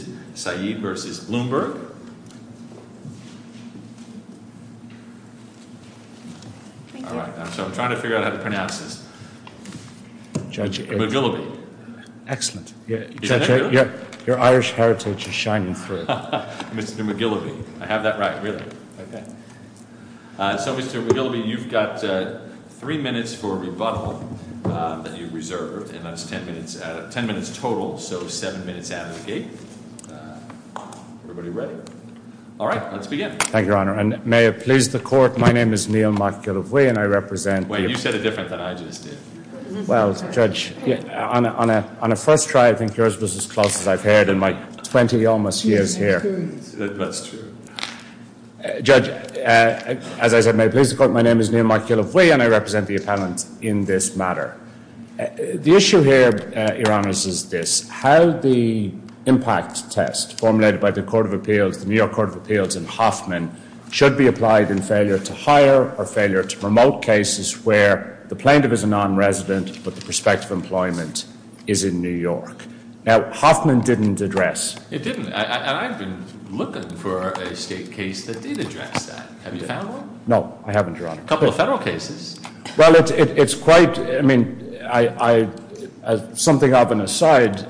McGillivy You have three minutes for rebuttal, ten minutes total, so seven minutes out of the Everybody ready? All right, let's begin. Thank you, Your Honor. And may it please the Court, my name is Neil McGillivy, and I represent the— Wait, you said it different than I just did. Well, Judge, on a first try, I think yours was as close as I've heard in my 20 almost years here. That's true. Judge, as I said, may it please the Court, my name is Neil McGillivy, and I represent the appellant in this matter. The issue here, Your Honor, is this. How the impact test formulated by the New York Court of Appeals and Hoffman should be applied in failure to hire or failure to promote cases where the plaintiff is a non-resident but the prospect of employment is in New York. Now, Hoffman didn't address— It didn't, and I've been looking for a state case that did address that. Have you found one? No, I haven't, Your Honor. A couple of federal cases. Well, it's quite—I mean, something of an aside,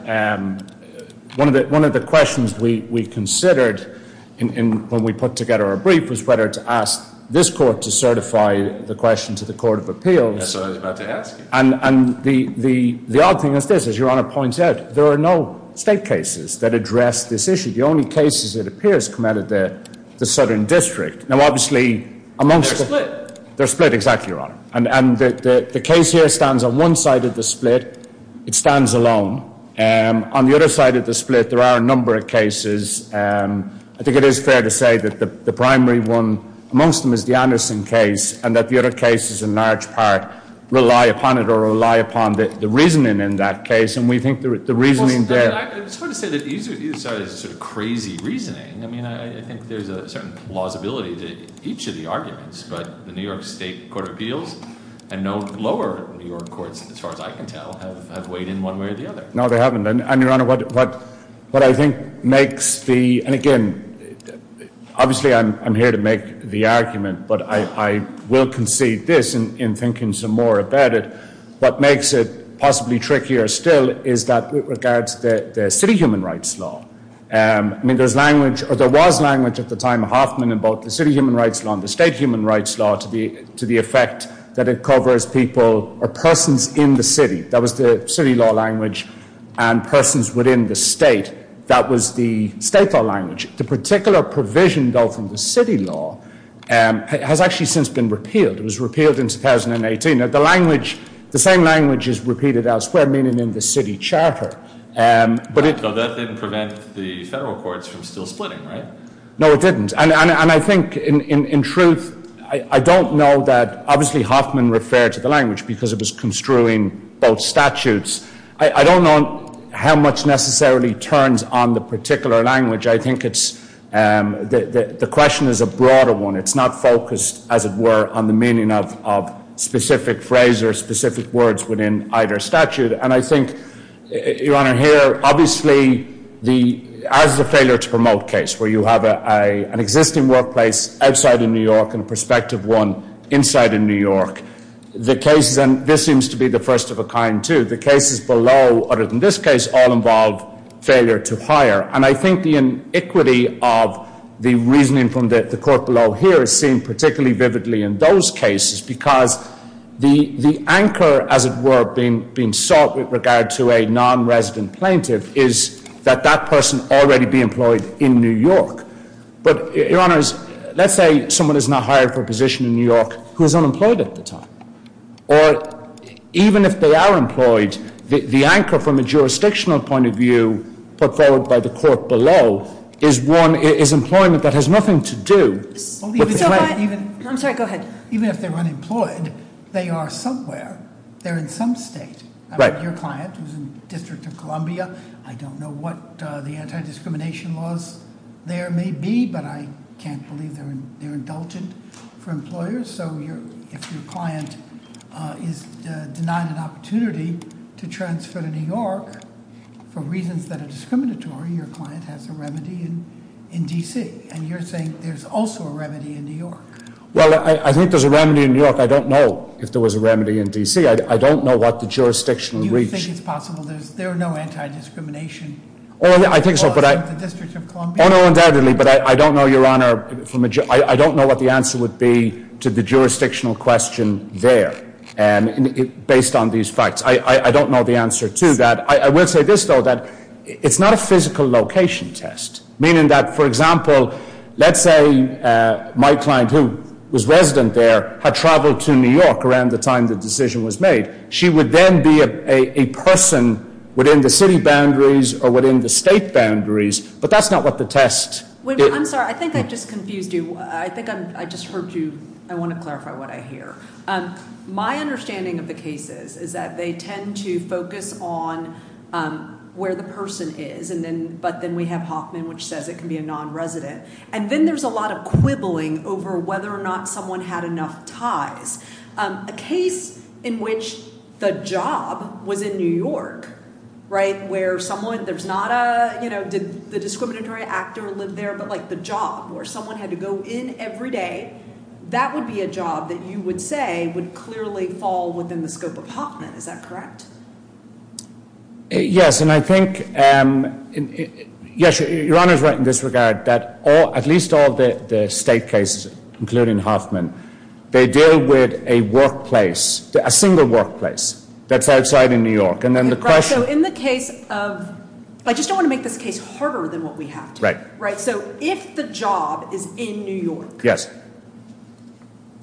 one of the questions we considered when we put together our brief was whether to ask this Court to certify the question to the Court of Appeals. That's what I was about to ask you. And the odd thing is this, as Your Honor points out, there are no state cases that address this issue. The only cases, it appears, come out of the Southern District. Now, obviously, amongst— They're split. They're split, exactly, Your Honor. And the case here stands on one side of the split. It stands alone. On the other side of the split, there are a number of cases. I think it is fair to say that the primary one amongst them is the Anderson case and that the other cases, in large part, rely upon it or rely upon the reasoning in that case. And we think the reasoning there— I just want to say that either side has a sort of crazy reasoning. I mean, I think there's a certain plausibility to each of the arguments. But the New York State Court of Appeals and no lower New York courts, as far as I can tell, have weighed in one way or the other. No, they haven't. And, Your Honor, what I think makes the— And again, obviously, I'm here to make the argument, but I will concede this in thinking some more about it. What makes it possibly trickier still is that it regards the city human rights law. I mean, there was language at the time, Hoffman, about the city human rights law and the state human rights law to the effect that it covers people or persons in the city. That was the city law language and persons within the state. That was the state law language. The particular provision, though, from the city law has actually since been repealed. It was repealed in 2018. Now, the language—the same language is repeated elsewhere, meaning in the city charter. But that didn't prevent the federal courts from still splitting, right? No, it didn't. And I think, in truth, I don't know that— Obviously, Hoffman referred to the language because it was construing both statutes. I don't know how much necessarily turns on the particular language. I think it's—the question is a broader one. It's not focused, as it were, on the meaning of specific phrases, specific words within either statute. And I think, Your Honor, here, obviously, as the failure to promote case, where you have an existing workplace outside of New York and a prospective one inside of New York, the cases—and this seems to be the first of a kind, too— the cases below, other than this case, all involve failure to hire. And I think the inequity of the reasoning from the court below here is seen particularly vividly in those cases because the anchor, as it were, being sought with regard to a non-resident plaintiff is that that person already be employed in New York. But, Your Honors, let's say someone is not hired for a position in New York who is unemployed at the time. Or, even if they are employed, the anchor from a jurisdictional point of view put forward by the court below is employment that has nothing to do with— So what— I'm sorry, go ahead. Even if they're unemployed, they are somewhere. They're in some state. Right. Your client was in the District of Columbia. I don't know what the anti-discrimination laws there may be, but I can't believe they're indulgent for employers. So if your client is denied an opportunity to transfer to New York for reasons that are discriminatory, your client has a remedy in D.C. And you're saying there's also a remedy in New York. Well, I think there's a remedy in New York. I don't know if there was a remedy in D.C. I don't know what the jurisdictional reach— Do you think it's possible there's— there are no anti-discrimination laws in the District of Columbia? Oh, no, undoubtedly. But I don't know, Your Honor, from a— I don't know what the answer would be to the jurisdictional question there based on these facts. I don't know the answer to that. I will say this, though, that it's not a physical location test, meaning that, for example, let's say my client, who was resident there, had traveled to New York around the time the decision was made. She would then be a person within the city boundaries or within the state boundaries. But that's not what the test— I'm sorry, I think I just confused you. I think I just heard you. I want to clarify what I hear. My understanding of the cases is that they tend to focus on where the person is, but then we have Hoffman, which says it can be a non-resident. And then there's a lot of quibbling over whether or not someone had enough ties. A case in which the job was in New York, right, where someone— there's not a, you know, did the discriminatory actor live there? But, like, the job, where someone had to go in every day, that would be a job that you would say would clearly fall within the scope of Hoffman. Is that correct? Yes. And I think, yes, Your Honor is right in this regard, that at least all the state cases, including Hoffman, they deal with a workplace, a single workplace, that's outside in New York. And then the question— So in the case of—I just don't want to make this case harder than what we have. Right. Right. So if the job is in New York— Yes.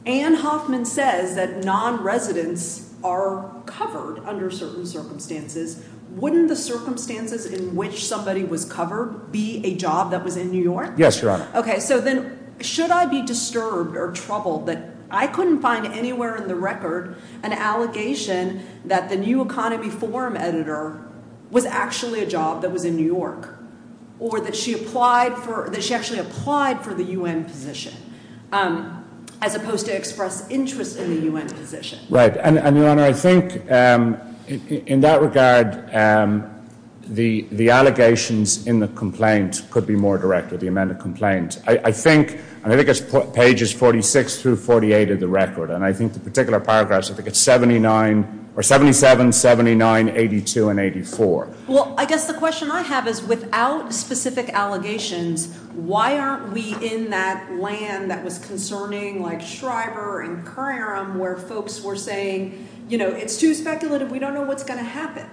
—and Hoffman says that non-residents are covered under certain circumstances, wouldn't the circumstances in which somebody was covered be a job that was in New York? Yes, Your Honor. OK, so then should I be disturbed or troubled that I couldn't find anywhere in the record an allegation that the new economy forum editor was actually a job that was in New York, or that she applied for—that she actually applied for the U.N. position, as opposed to express interest in the U.N. position? Right. And, Your Honor, I think in that regard, the allegations in the complaint could be more direct with the amended complaint. I think—and I think it's pages 46 through 48 of the record, and I think the particular paragraphs, I think it's 79—or 77, 79, 82, and 84. Well, I guess the question I have is, without specific allegations, why aren't we in that land that was concerning, like Schreiber and Curram, where folks were saying, you know, it's too speculative. We don't know what's going to happen.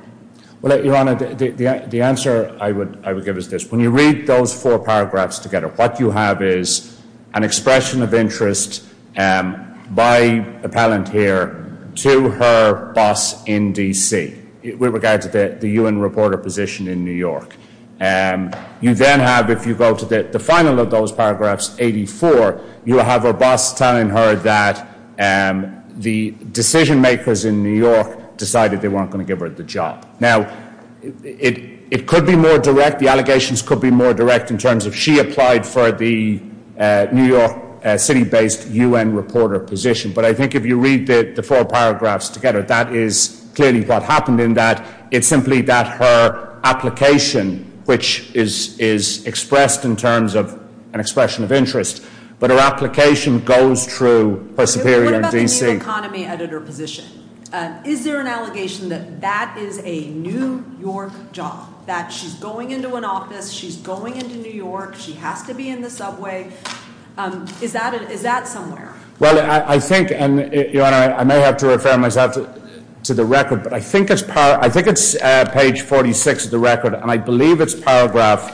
Well, Your Honor, the answer I would give is this. When you read those four paragraphs together, what you have is an expression of interest by a palantir to her boss in D.C. with regards to the U.N. reporter position in New York. You then have, if you go to the final of those paragraphs, 84, you have her boss telling her that the decision-makers in New York decided they weren't going to give her the job. Now, it could be more direct. The allegations could be more direct in terms of she applied for the New York City-based U.N. reporter position. But I think if you read the four paragraphs together, that is clearly what happened in that. It's simply that her application, which is expressed in terms of an expression of interest, but her application goes through her superior in D.C. What about the new economy editor position? Is there an allegation that that is a New York job, that she's going into an office, she's going into New York, she has to be in the subway? Is that somewhere? Well, I think, and Your Honor, I may have to refer myself to the record, but I think it's page 46 of the record, and I believe it's paragraph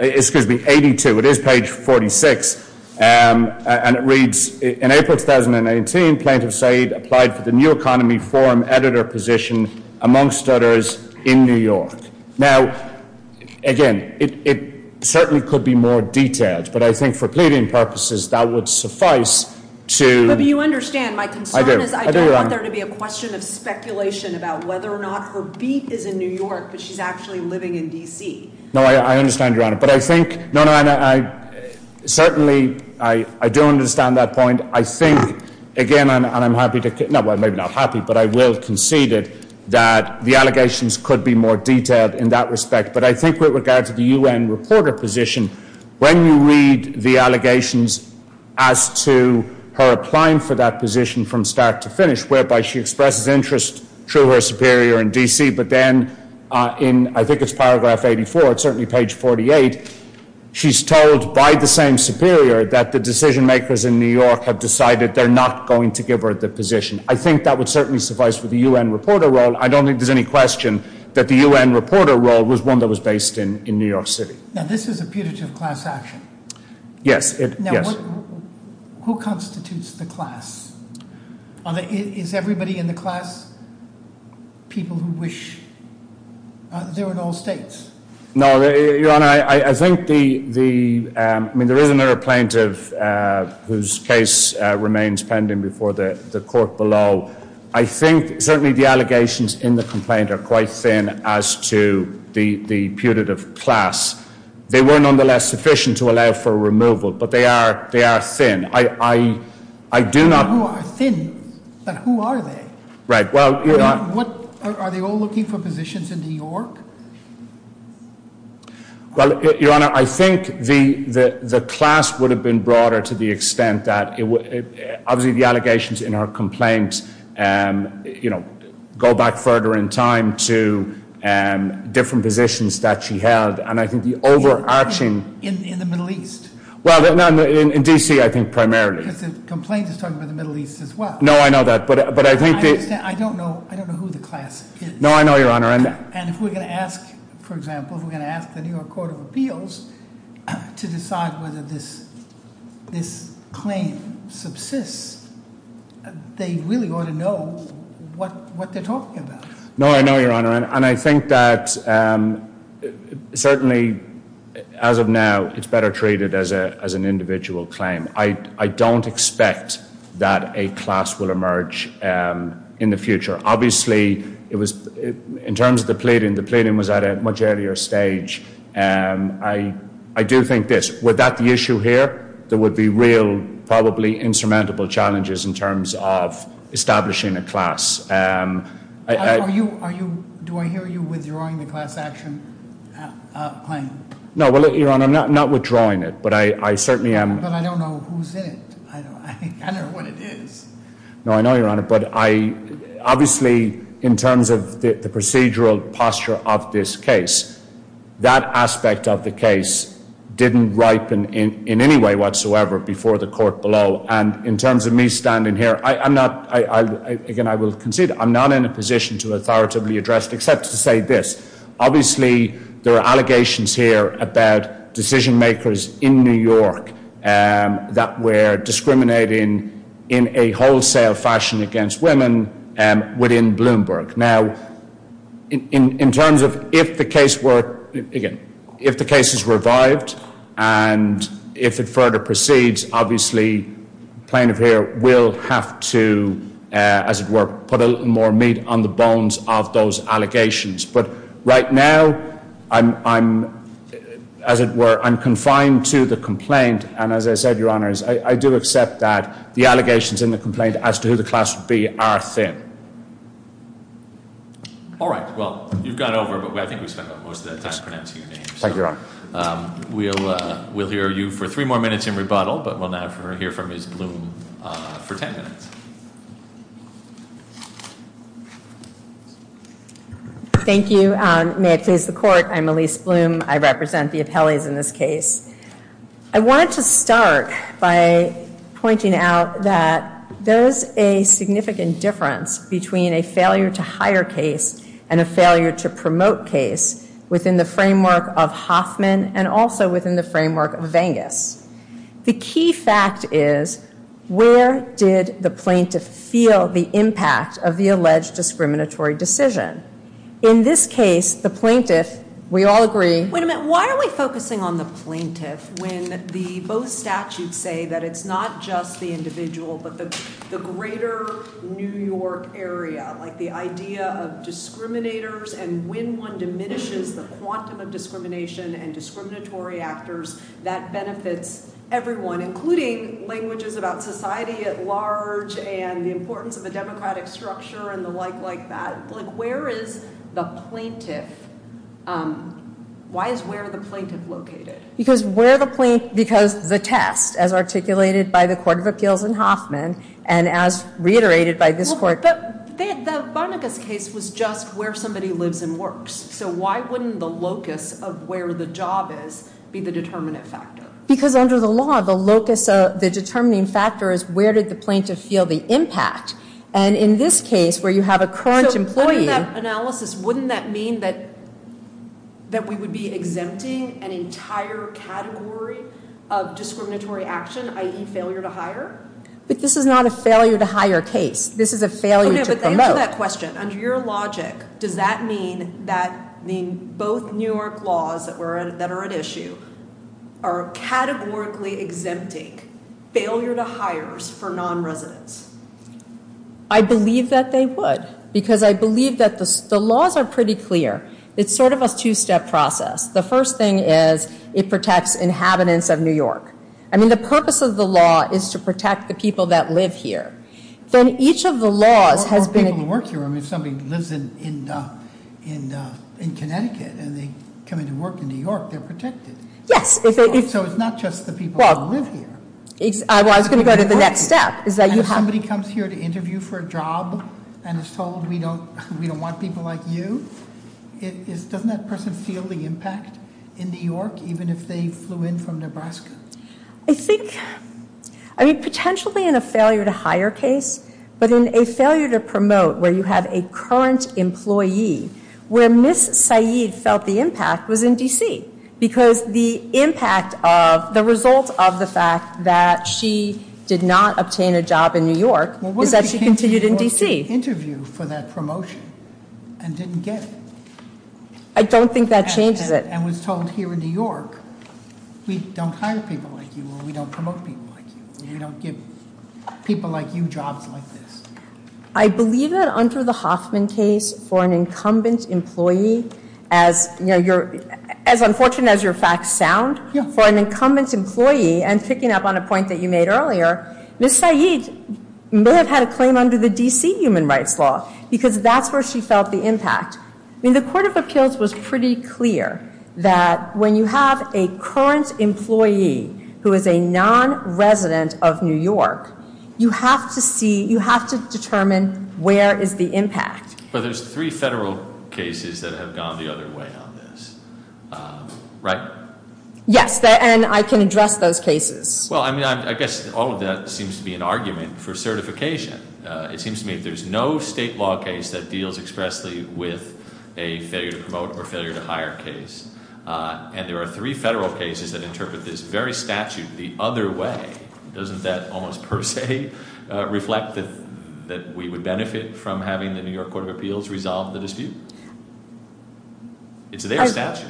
82, it is page 46, and it reads, in April 2018, Plaintiff Said applied for the new economy forum editor position amongst others in New York. Now, again, it certainly could be more detailed, but I think for pleading purposes, that would suffice to... But you understand, my concern is I don't want there to be a question of speculation about whether or not her beat is in New York, but she's actually living in D.C. No, I understand, Your Honor, but I think... No, no, and I certainly, I do understand that point. I think, again, and I'm happy to... No, well, maybe not happy, but I will concede it, that the allegations could be more detailed in that respect. But I think with regard to the U.N. reporter position, when you read the allegations as to her applying for that position from start to finish, whereby she expresses interest through her superior in D.C., but then in, I think it's paragraph 84, it's certainly page 48, she's told by the same superior that the decision makers in New York have decided they're not going to give her the position. I think that would certainly suffice for the U.N. reporter role. I don't think there's any question that the U.N. reporter role was one that was based in New York City. Now, this is a putative class action. Yes, it... Now, who constitutes the class? Are the... Is everybody in the class people who wish... They're in all states. No, Your Honor, I think the... I mean, there is another plaintiff whose case remains pending before the court below. I think certainly the allegations in the complaint are quite thin as to the putative class. They were nonetheless sufficient to allow for removal, but they are thin. I do not... They are thin, but who are they? Right, well... Are they all looking for positions in New York? Well, Your Honor, I think the class would have been broader to the extent that... Obviously, the allegations in her complaint go back further in time to different positions that she held, and I think the overarching... In the Middle East. Well, in D.C., I think primarily. Because the complaint is talking about the Middle East as well. No, I know that, but I think that... I don't know who the class is. No, I know, Your Honor, and... And if we're going to ask, for example, if we're going to ask the New York Court of Appeals to decide whether this claim subsists, they really ought to know what they're talking about. No, I know, Your Honor, and I think that certainly, as of now, it's better treated as an individual claim. I don't expect that a class will emerge in the future. Obviously, it was... In terms of the pleading, the pleading was at a much earlier stage. I do think this. Were that the issue here, there would be real, probably insurmountable challenges in terms of establishing a class. Do I hear you withdrawing the class action? Claim? No, Your Honor, I'm not withdrawing it, but I certainly am... But I don't know who's in it. I don't know what it is. No, I know, Your Honor, but I... Obviously, in terms of the procedural posture of this case, that aspect of the case didn't ripen in any way whatsoever before the court below. And in terms of me standing here, I'm not... Again, I will concede, I'm not in a position to authoritatively address, except to say this. Obviously, there are allegations here about decision-makers in New York that were discriminating in a wholesale fashion against women within Bloomberg. Now, in terms of if the case were... Again, if the case is revived, and if it further proceeds, obviously, plaintiff here will have to, as it were, put a little more meat on the bones of those allegations. But right now, I'm, as it were, I'm confined to the complaint. And as I said, Your Honor, I do accept that the allegations in the complaint as to who the class would be are thin. All right. Well, you've gone over, but I think we've spent most of that time pronouncing your name. Thank you, Your Honor. We'll hear you for three more minutes in rebuttal, but we'll now hear from Ms. Bloom for 10 minutes. Thank you. May it please the Court. I'm Elise Bloom. I represent the appellees in this case. I wanted to start by pointing out that there's a significant difference between a failure-to-hire case and a failure-to-promote case within the framework of Hoffman and also within the framework of Vengas. The key fact is, where did the plaintiff feel the impact of the alleged discriminatory decision? In this case, the plaintiff, we all agree... Wait a minute. Why are we focusing on the plaintiff when both statutes say that it's not just the individual, but the greater New York area, like the idea of discriminators and when one diminishes the quantum of discrimination and discriminatory actors, that benefits everyone, including languages about society at large and the importance of a democratic structure and the like like that. Where is the plaintiff? Why is where the plaintiff located? Because where the plaint... Because the test, as articulated by the Court of Appeals in Hoffman and as reiterated by this Court... But the Vengas case was just where somebody lives and works. So why wouldn't the locus of where the job is be the determinant factor? Because under the law, the locus of the determining factor is where did the plaintiff feel the impact. And in this case, where you have a current employee... So under that analysis, wouldn't that mean that that we would be exempting an entire category of discriminatory action, i.e. failure to hire? But this is not a failure to hire case. This is a failure to promote. Okay, but answer that question. Under your logic, does that mean that mean both New York laws that are at issue are categorically exempting failure to hires for non-residents? I believe that they would because I believe that the laws are pretty clear. It's sort of a two-step process. The first thing is it protects inhabitants of New York. I mean, the purpose of the law is to protect the people that live here. Then each of the laws has been... Well, people who work here, I mean, somebody who lives in Connecticut and they come into work in New York, they're protected. Yes, if they... So it's not just the people who live here. Well, I was going to go to the next step, and if somebody comes here to interview for a job and is told we don't want people like you, doesn't that person feel the impact in New York, even if they flew in from Nebraska? I think, I mean, potentially in a failure to hire case, but in a failure to promote where you have a current employee, where Ms. Saeed felt the impact was in DC because the impact of, the result of the fact that she did not obtain a job in New York is that she continued in DC. Interview for that promotion and didn't get it. I don't think that changes it. And was told here in New York, we don't hire people like you or we don't promote people like you. We don't give people like you jobs like this. I believe that under the Hoffman case for an incumbent employee, as, you know, you're, as unfortunate as your facts sound, for an incumbent employee and picking up on a point that you made earlier, Ms. Saeed may have had a claim under the DC human rights law because that's where she felt the impact. I mean, the court of appeals was pretty clear that when you have a current employee who is a non-resident of New York, you have to see, you have to determine where is the impact. But there's three federal cases that have gone the other way on this, right? Yes, and I can address those cases. Well, I mean, I guess all of that seems to be an argument for certification. It seems to me if there's no state law case that deals expressly with a failure to promote or failure to hire case, and there are three federal cases that interpret this very statute the other way, doesn't that almost per se reflect that we would benefit from having the New York Court of Appeals resolve the dispute? It's their statute.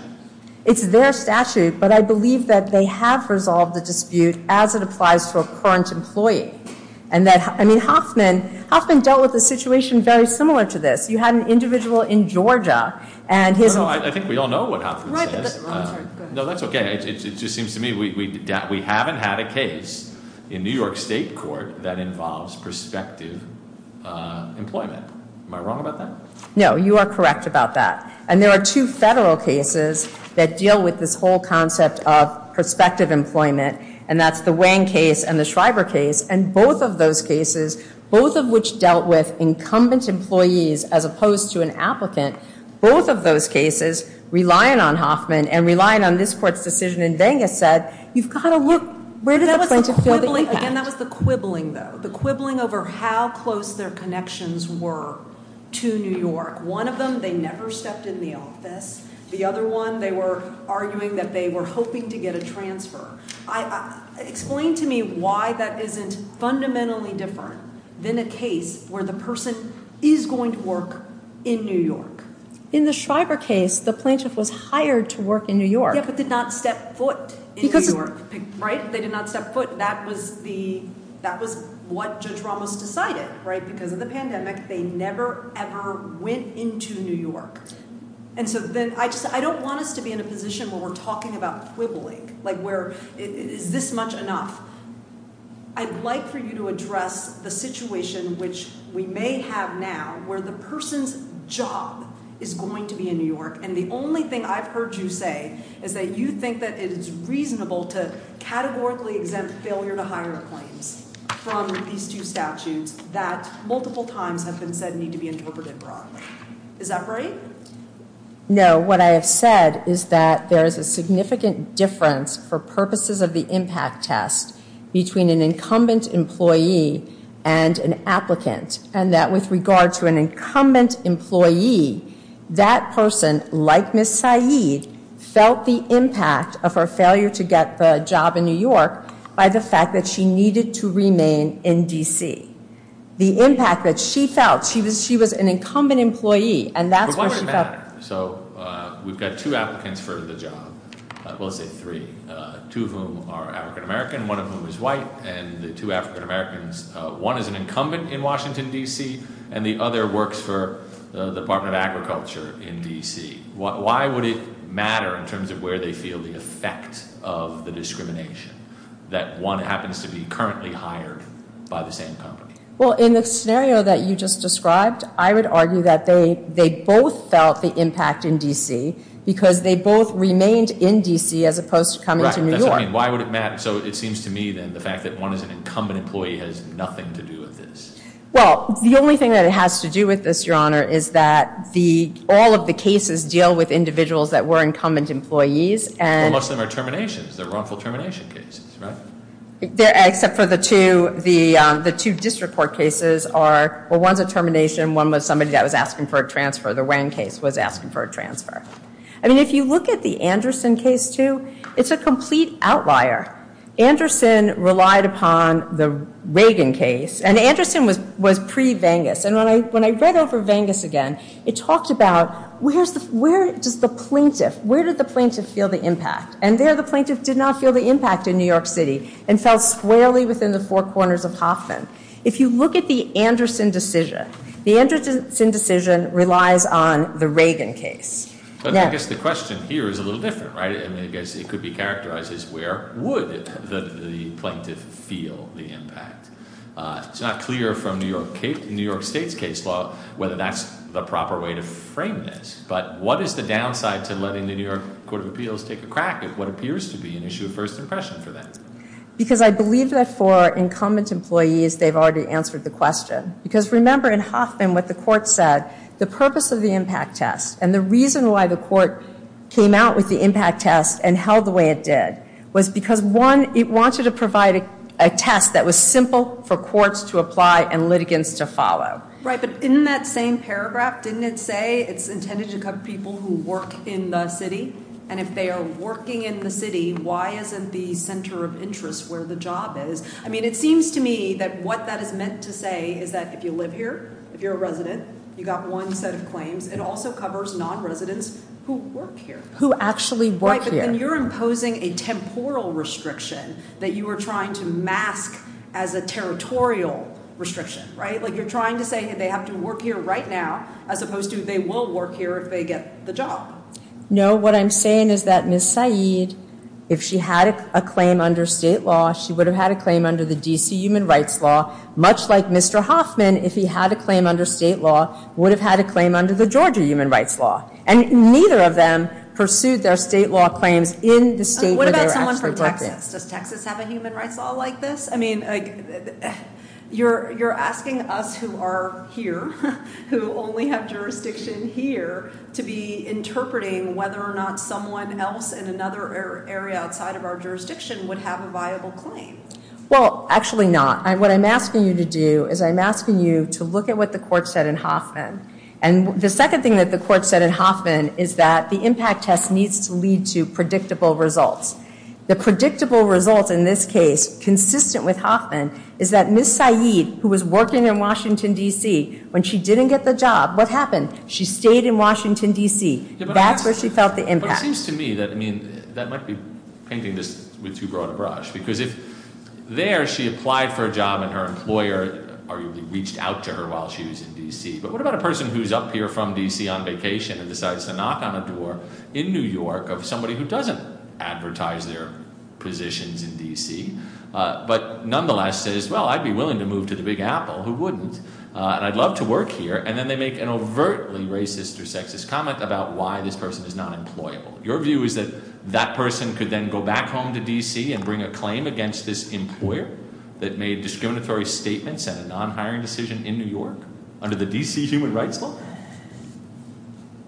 It's their statute, but I believe that they have resolved the dispute as it applies to a current employee. And that, I mean, Hoffman dealt with the situation very similar to this. You had an individual in Georgia and his- No, no, I think we all know what Hoffman says. Right, but, I'm sorry, go ahead. No, that's okay. It just seems to me we haven't had a case in New York State Court that involves prospective employment. Am I wrong about that? No, you are correct about that. And there are two federal cases that deal with this whole concept of prospective employment, and that's the Wang case and the Schreiber case, and both of those cases, both of which dealt with incumbent employees as opposed to an applicant, both of those cases, relying on Hoffman and relying on this court's decision in Vegas said, you've got to look, where does the plaintiff feel that you have? Again, that was the quibbling though, the quibbling over how close their connections were to New York. One of them, they never stepped in the office. The other one, they were arguing that they were hoping to get a transfer. Explain to me why that isn't fundamentally different than a case where the person is going to work in New York. In the Schreiber case, the plaintiff was hired to work in New York. Yeah, but did not step foot in New York, right? They did not step foot. That was what Judge Ramos decided, right? Because of the pandemic, they never ever went into New York. And so then I just, I don't want us to be in a position where we're talking about quibbling, like where is this much enough? I'd like for you to address the situation which we may have now where the person's job is going to be in New York. And the only thing I've heard you say is that you think that it is reasonable to categorically exempt failure to hire claims from these two statutes that multiple times have been said need to be interpreted broadly. Is that right? No, what I have said is that there is a significant difference for purposes of the impact test between an incumbent employee and an applicant. And that with regard to an incumbent employee, that person, like Ms. Saeed, felt the impact of her failure to get the job in New York by the fact that she needed to remain in D.C. The impact that she felt, she was an incumbent employee, and that's why she felt- But why would it matter? So we've got two applicants for the job, we'll say three, two of whom are African American, one of whom is white, and the two African Americans, one is an incumbent in Washington, D.C., and the other works for the Department of Agriculture in D.C. Why would it matter in terms of where they feel the effect of the discrimination? That one happens to be currently hired by the same company? Well, in the scenario that you just described, I would argue that they both felt the impact in D.C. because they both remained in D.C. as opposed to coming to New York. Right, that's what I mean. Why would it matter? So it seems to me then, the fact that one is an incumbent employee has nothing to do with this. Well, the only thing that it has to do with this, Your Honor, is that all of the cases deal with individuals that were incumbent employees and- Well, most of them are terminations. They're wrongful termination cases, right? Except for the two district court cases are, well, one's a termination, one was somebody that was asking for a transfer. The Wang case was asking for a transfer. I mean, if you look at the Anderson case too, it's a complete outlier. Anderson relied upon the Reagan case, and Anderson was pre-Vengas. And when I read over Vengas again, it talked about where does the plaintiff, where did the plaintiff feel the impact? And there, the plaintiff did not feel the impact in New York City and fell squarely within the four corners of Hoffman. If you look at the Anderson decision, the Anderson decision relies on the Reagan case. But I guess the question here is a little different, right? I mean, I guess it could be characterized as where would the plaintiff feel the impact? It's not clear from New York State's case law whether that's the proper way to frame this. But what is the downside to letting the New York Court of Appeals take a crack at what appears to be an issue of first impression for that? Because I believe that for incumbent employees, they've already answered the question. Because remember in Hoffman, what the court said, the purpose of the impact test and the reason why the court came out with the impact test and held the way it did was because one, it wanted to provide a test that was simple for courts to apply and litigants to follow. Right, but in that same paragraph, didn't it say it's intended to cover people who work in the city? And if they are working in the city, why isn't the center of interest where the job is? I mean, it seems to me that what that is meant to say is that if you live here, if you're a resident, you got one set of claims. It also covers non-residents who work here. Who actually work here. Right, but then you're imposing a temporal restriction that you are trying to mask as a territorial restriction, right? Like you're trying to say, hey, they have to work here right now as opposed to they will work here if they get the job. No, what I'm saying is that Ms. Saeed, if she had a claim under state law, she would have had a claim under the D.C. Human Rights Law, much like Mr. Hoffman, if he had a claim under state law, would have had a claim under the Georgia Human Rights Law. And neither of them pursued their state law claims in the state where they were actually working. What about someone from Texas? Does Texas have a human rights law like this? I mean, you're asking us who are here, who only have jurisdiction here, to be interpreting whether or not someone else in another area outside of our jurisdiction would have a viable claim. Well, actually not. What I'm asking you to do is I'm asking you to look at what the court said in Hoffman. And the second thing that the court said in Hoffman is that the impact test needs to lead to predictable results. The predictable results in this case, consistent with Hoffman, is that Ms. Saeed, who was working in Washington, D.C., when she didn't get the job, what happened? She stayed in Washington, D.C. That's where she felt the impact. It seems to me that, I mean, that might be painting this with too broad a brush. Because if there she applied for a job and her employer arguably reached out to her while she was in D.C., but what about a person who's up here from D.C. on vacation and decides to knock on a door in New York of somebody who doesn't advertise their positions in D.C., but nonetheless says, well, I'd be willing to move to the Big Apple. Who wouldn't? And I'd love to work here. And then they make an overtly racist or sexist comment about why this person is not employable. Your view is that that person could then go back home to D.C. and bring a claim against this employer that made discriminatory statements and a non-hiring decision in New York under the D.C. Human Rights Law?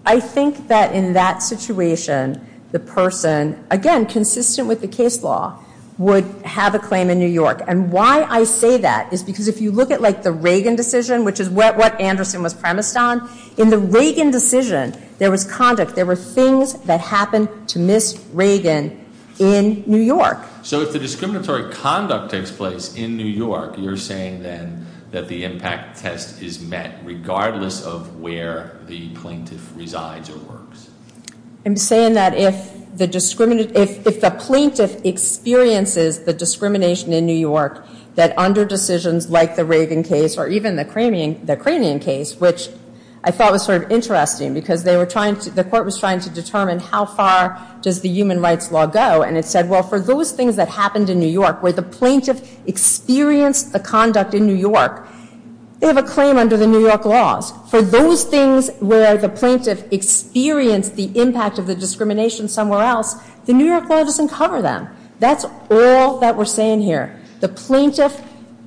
I think that in that situation, the person, again, consistent with the case law, would have a claim in New York. And why I say that is because if you look at the Reagan decision, which is what Anderson was premised on, in the Reagan decision, there was conduct, there were things that happened to Ms. Reagan in New York. So if the discriminatory conduct takes place in New York, you're saying then that the impact test is met regardless of where the plaintiff resides or works? I'm saying that if the plaintiff experiences the discrimination in New York that under decisions like the Reagan case or even the Cranian case, which I thought was sort of interesting because the court was trying to determine how far does the human rights law go. And it said, well, for those things that happened in New York where the plaintiff experienced the conduct in New York, they have a claim under the New York laws. For those things where the plaintiff experienced the impact of the discrimination somewhere else, the New York law doesn't cover them. That's all that we're saying here. The plaintiff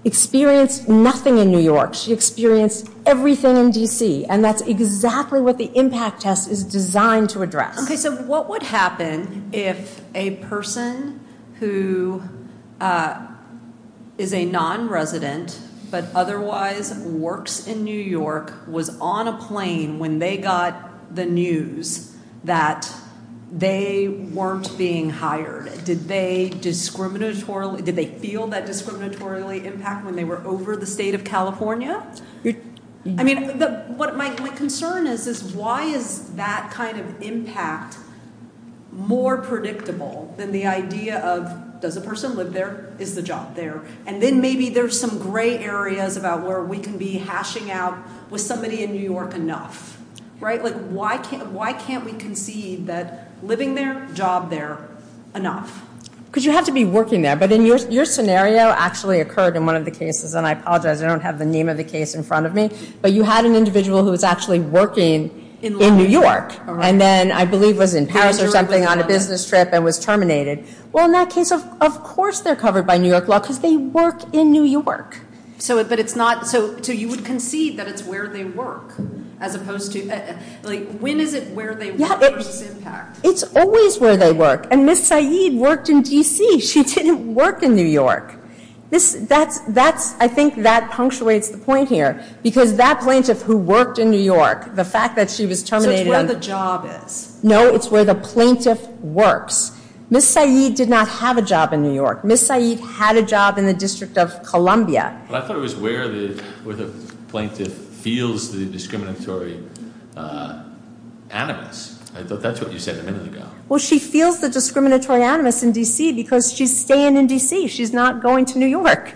experienced nothing in New York. She experienced everything in D.C. And that's exactly what the impact test is designed to address. Okay, so what would happen if a person who is a non-resident but otherwise works in New York was on a plane when they got the news that they weren't being hired? Did they feel that discriminatorily impact when they were over the state of California? I mean, what my concern is is why is that kind of impact more predictable than the idea of does a person live there? Is the job there? And then maybe there's some gray areas about where we can be hashing out with somebody in New York enough, right? Like, why can't we conceive that living there, job there, enough? Because you have to be working there. But your scenario actually occurred in one of the cases, and I apologize. I don't have the name of the case in front of me, but you had an individual who was actually working in New York and then I believe was in Paris or something on a business trip and was terminated. Well, in that case, of course, they're covered by New York law because they work in New York. So, but it's not, so you would concede that it's where they work as opposed to, like, when is it where they work versus impact? It's always where they work. And Ms. Saeed worked in D.C. She didn't work in New York. This, that's, that's, I think that punctuates the point here because that plaintiff who worked in New York, the fact that she was terminated- So it's where the job is. No, it's where the plaintiff works. Ms. Saeed did not have a job in New York. Ms. Saeed had a job in the District of Columbia. But I thought it was where the plaintiff feels the discriminatory animus. I thought that's what you said a minute ago. Well, she feels the discriminatory animus in D.C. because she's staying in D.C. She's not going to New York.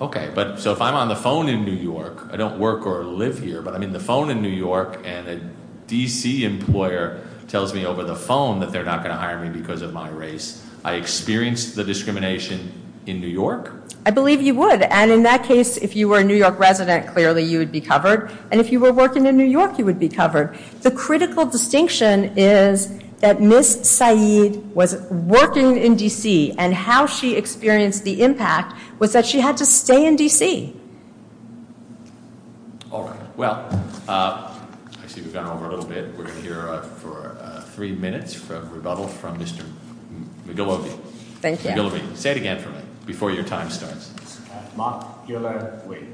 Okay, but so if I'm on the phone in New York, I don't work or live here, but I'm in the phone in New York and a D.C. employer tells me over the phone that they're not going to hire me because of my race, I experienced the discrimination in New York? I believe you would. And in that case, if you were a New York resident, clearly you would be covered. And if you were working in New York, you would be covered. The critical distinction is that Ms. Saeed was working in D.C. and how she experienced the impact was that she had to stay in D.C. All right. Well, I see we've gone over a little bit. We're going to hear for three minutes from rebuttal from Mr. McGillivy. Thank you. Say it again for me before your time starts. Mock-ular-wee.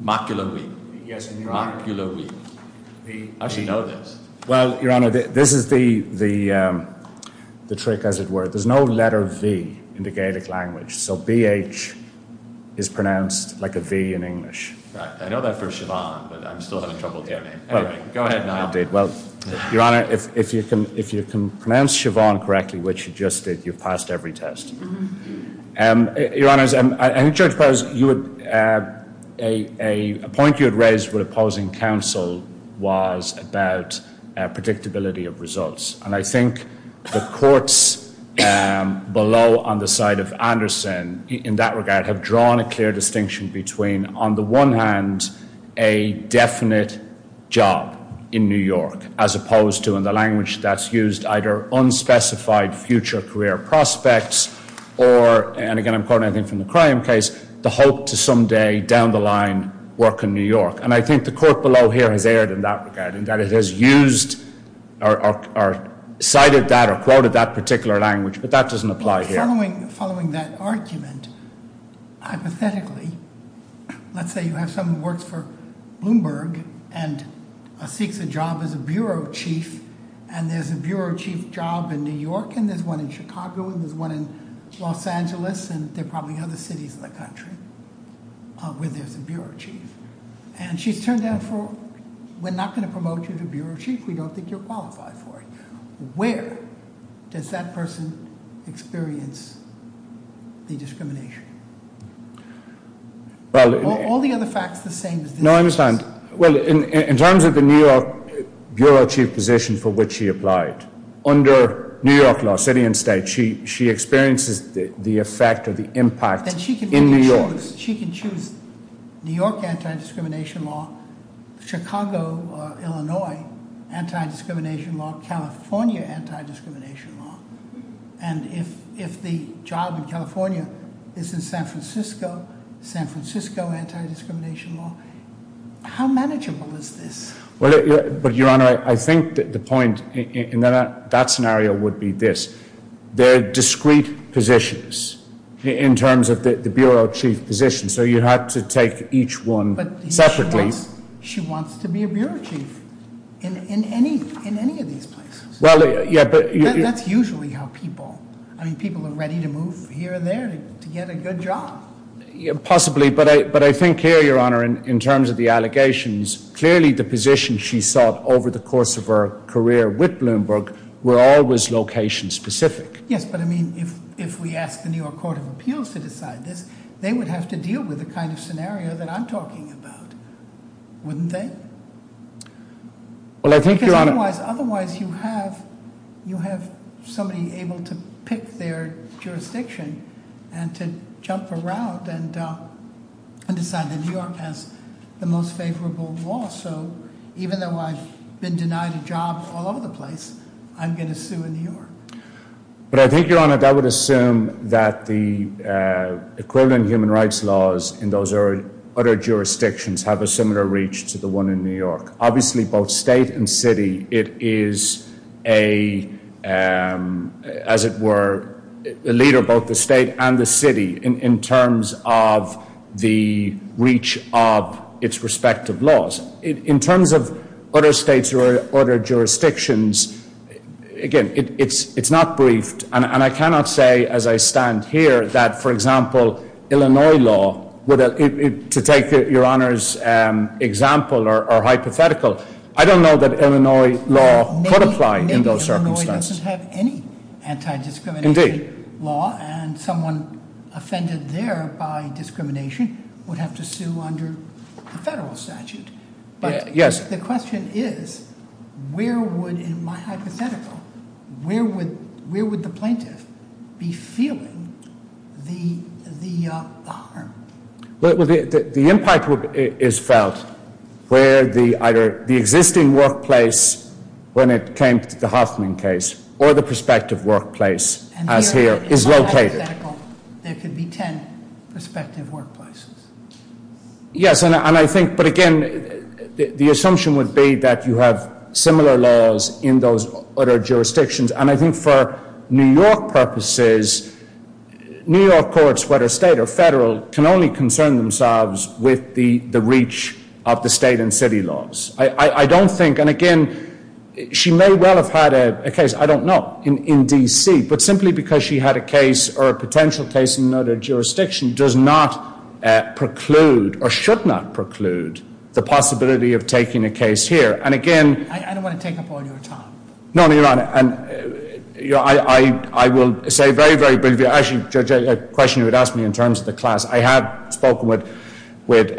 Mock-ular-wee. Yes, Your Honor. Mock-ular-wee. I should know this. Well, Your Honor, this is the trick, as it were. There's no letter V in the Gaelic language. So B-H is pronounced like a V in English. Right. I know that for Siobhan, but I'm still having trouble with your name. Anyway, go ahead now. Indeed. Well, Your Honor, if you can pronounce Siobhan correctly, which you just did, you've passed every test. Your Honors, I think Judge Perez, a point you had raised with opposing counsel was about predictability of results. And I think the courts below on the side of Anderson in that regard have drawn a clear distinction between, on the one hand, a definite job in New York, as opposed to, in the language that's used, either unspecified future career prospects or, and again, I'm quoting, I think, from the crime case, the hope to someday down the line work in New York. And I think the court below here has erred in that regard, in that it has used, or cited that, or quoted that particular language. But that doesn't apply here. Following that argument, hypothetically, let's say you have someone who works for Bloomberg and seeks a job as a bureau chief, and there's a bureau chief job in New York, and there's one in Chicago, and there's one in Los Angeles, and there are probably other cities in the country where there's a bureau chief. And she's turned down for, we're not going to promote you to bureau chief. We don't think you're qualified for it. Where does that person experience the discrimination? All the other facts the same as this. No, I understand. Well, in terms of the New York bureau chief position for which she applied, under New York law, city and state, she experiences the effect or the impact in New York. She can choose New York anti-discrimination law, Chicago or Illinois anti-discrimination law, California anti-discrimination law. And if the job in California is in San Francisco, San Francisco anti-discrimination law, how manageable is this? But Your Honor, I think that the point in that scenario would be this. There are discrete positions in terms of the bureau chief position. So you have to take each one separately. She wants to be a bureau chief in any of these places. Well, yeah, but- That's usually how people, I mean, people are ready to move here and there to get a good job. Possibly. But I think here, Your Honor, in terms of the allegations, clearly the position she sought over the course of her career with Bloomberg were always location specific. Yes, but I mean, if we ask the New York Court of Appeals to decide this, they would have to deal with the kind of scenario that I'm talking about, wouldn't they? Well, I think, Your Honor- Otherwise, you have somebody able to pick their jurisdiction and to jump around and decide that New York has the most favorable law. So even though I've been denied a job all over the place, I'm going to sue in New York. But I think, Your Honor, that would assume that the equivalent human rights laws in those other jurisdictions have a similar reach to the one in New York. Obviously, both state and city, it is a, as it were, a leader, both the state and the city, in terms of the reach of its respective laws. In terms of other states or other jurisdictions, again, it's not briefed. And I cannot say, as I stand here, that, for example, Illinois law, to take Your Honor's example or hypothetical, I don't know that Illinois law could apply in those circumstances. Maybe Illinois doesn't have any anti-discrimination law, and someone offended there by discrimination would have to sue under the federal statute. But the question is, where would, in my hypothetical, where would the plaintiff be feeling the harm? Well, the impact is felt where either the existing workplace, when it came to the Hoffman case, or the prospective workplace, as here, is located. In my hypothetical, there could be 10 prospective workplaces. Yes, and I think, but again, the assumption would be that you have similar laws in those other jurisdictions. And I think for New York purposes, New York courts, whether state or federal, can only concern themselves with the reach of the state and city laws. I don't think, and again, she may well have had a case, I don't know, in D.C., but simply because she had a case or a potential case in another jurisdiction does not preclude, or should not preclude, the possibility of taking a case here. And again- I don't want to take up all your time. No, no, Your Honor. And I will say very, very briefly, actually, Judge, a question you had asked me in terms of the class. I have spoken with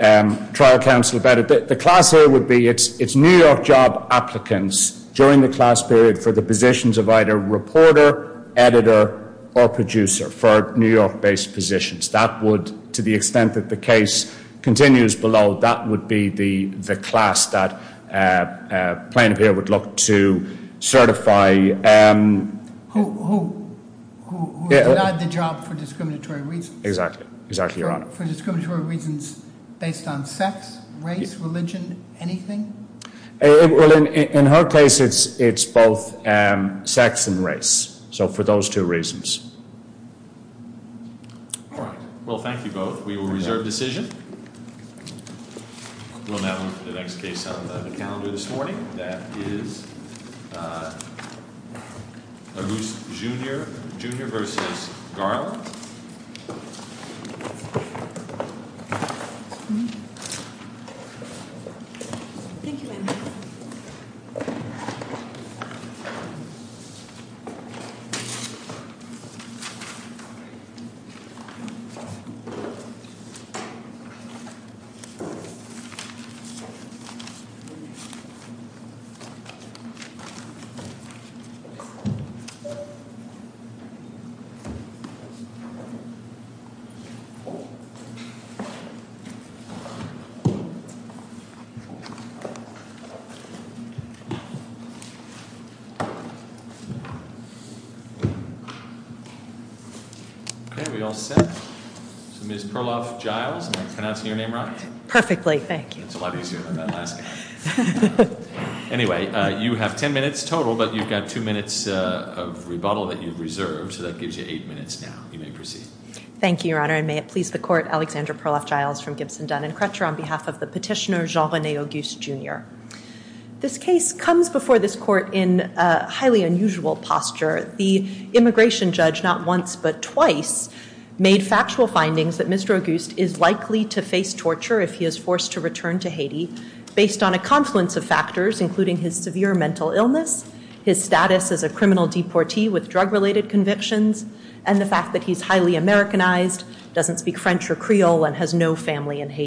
trial counsel about it. The class here would be, it's New York job applicants during the class period for the positions of either reporter, editor, or producer for New York-based positions. To the extent that the case continues below, that would be the class that plaintiff here would look to certify. Who would provide the job for discriminatory reasons? Exactly. Exactly, Your Honor. For discriminatory reasons based on sex, race, religion, anything? Well, in her case, it's both sex and race. So for those two reasons. Well, thank you both. We will reserve decision. We'll now move to the next case on the calendar this morning. That is Agoost Jr., Jr. versus Garland. Thank you, ma'am. Thank you. Okay, we all set? So Ms. Perloff-Giles, am I pronouncing your name right? Perfectly, thank you. That's a lot easier than that last guy. Anyway, you have 10 minutes total, but you've got two minutes of rebuttal that you've reserved. So that gives you eight minutes now. You may proceed. Thank you, Your Honor. And may it please the court, Alexander Perloff-Giles from Gibson, Dun & Crutcher on behalf of the petitioner Jean-René Agoost, Jr. This case comes before this court in a highly unusual posture. The immigration judge, not once but twice, made factual findings that Mr. Agoost is likely to face torture if he is forced to return to Haiti based on a confluence of factors, including his severe mental illness, his status as a criminal deportee with drug-related convictions, and the fact that he's highly Americanized, doesn't speak French or Creole, and has no family in Haiti.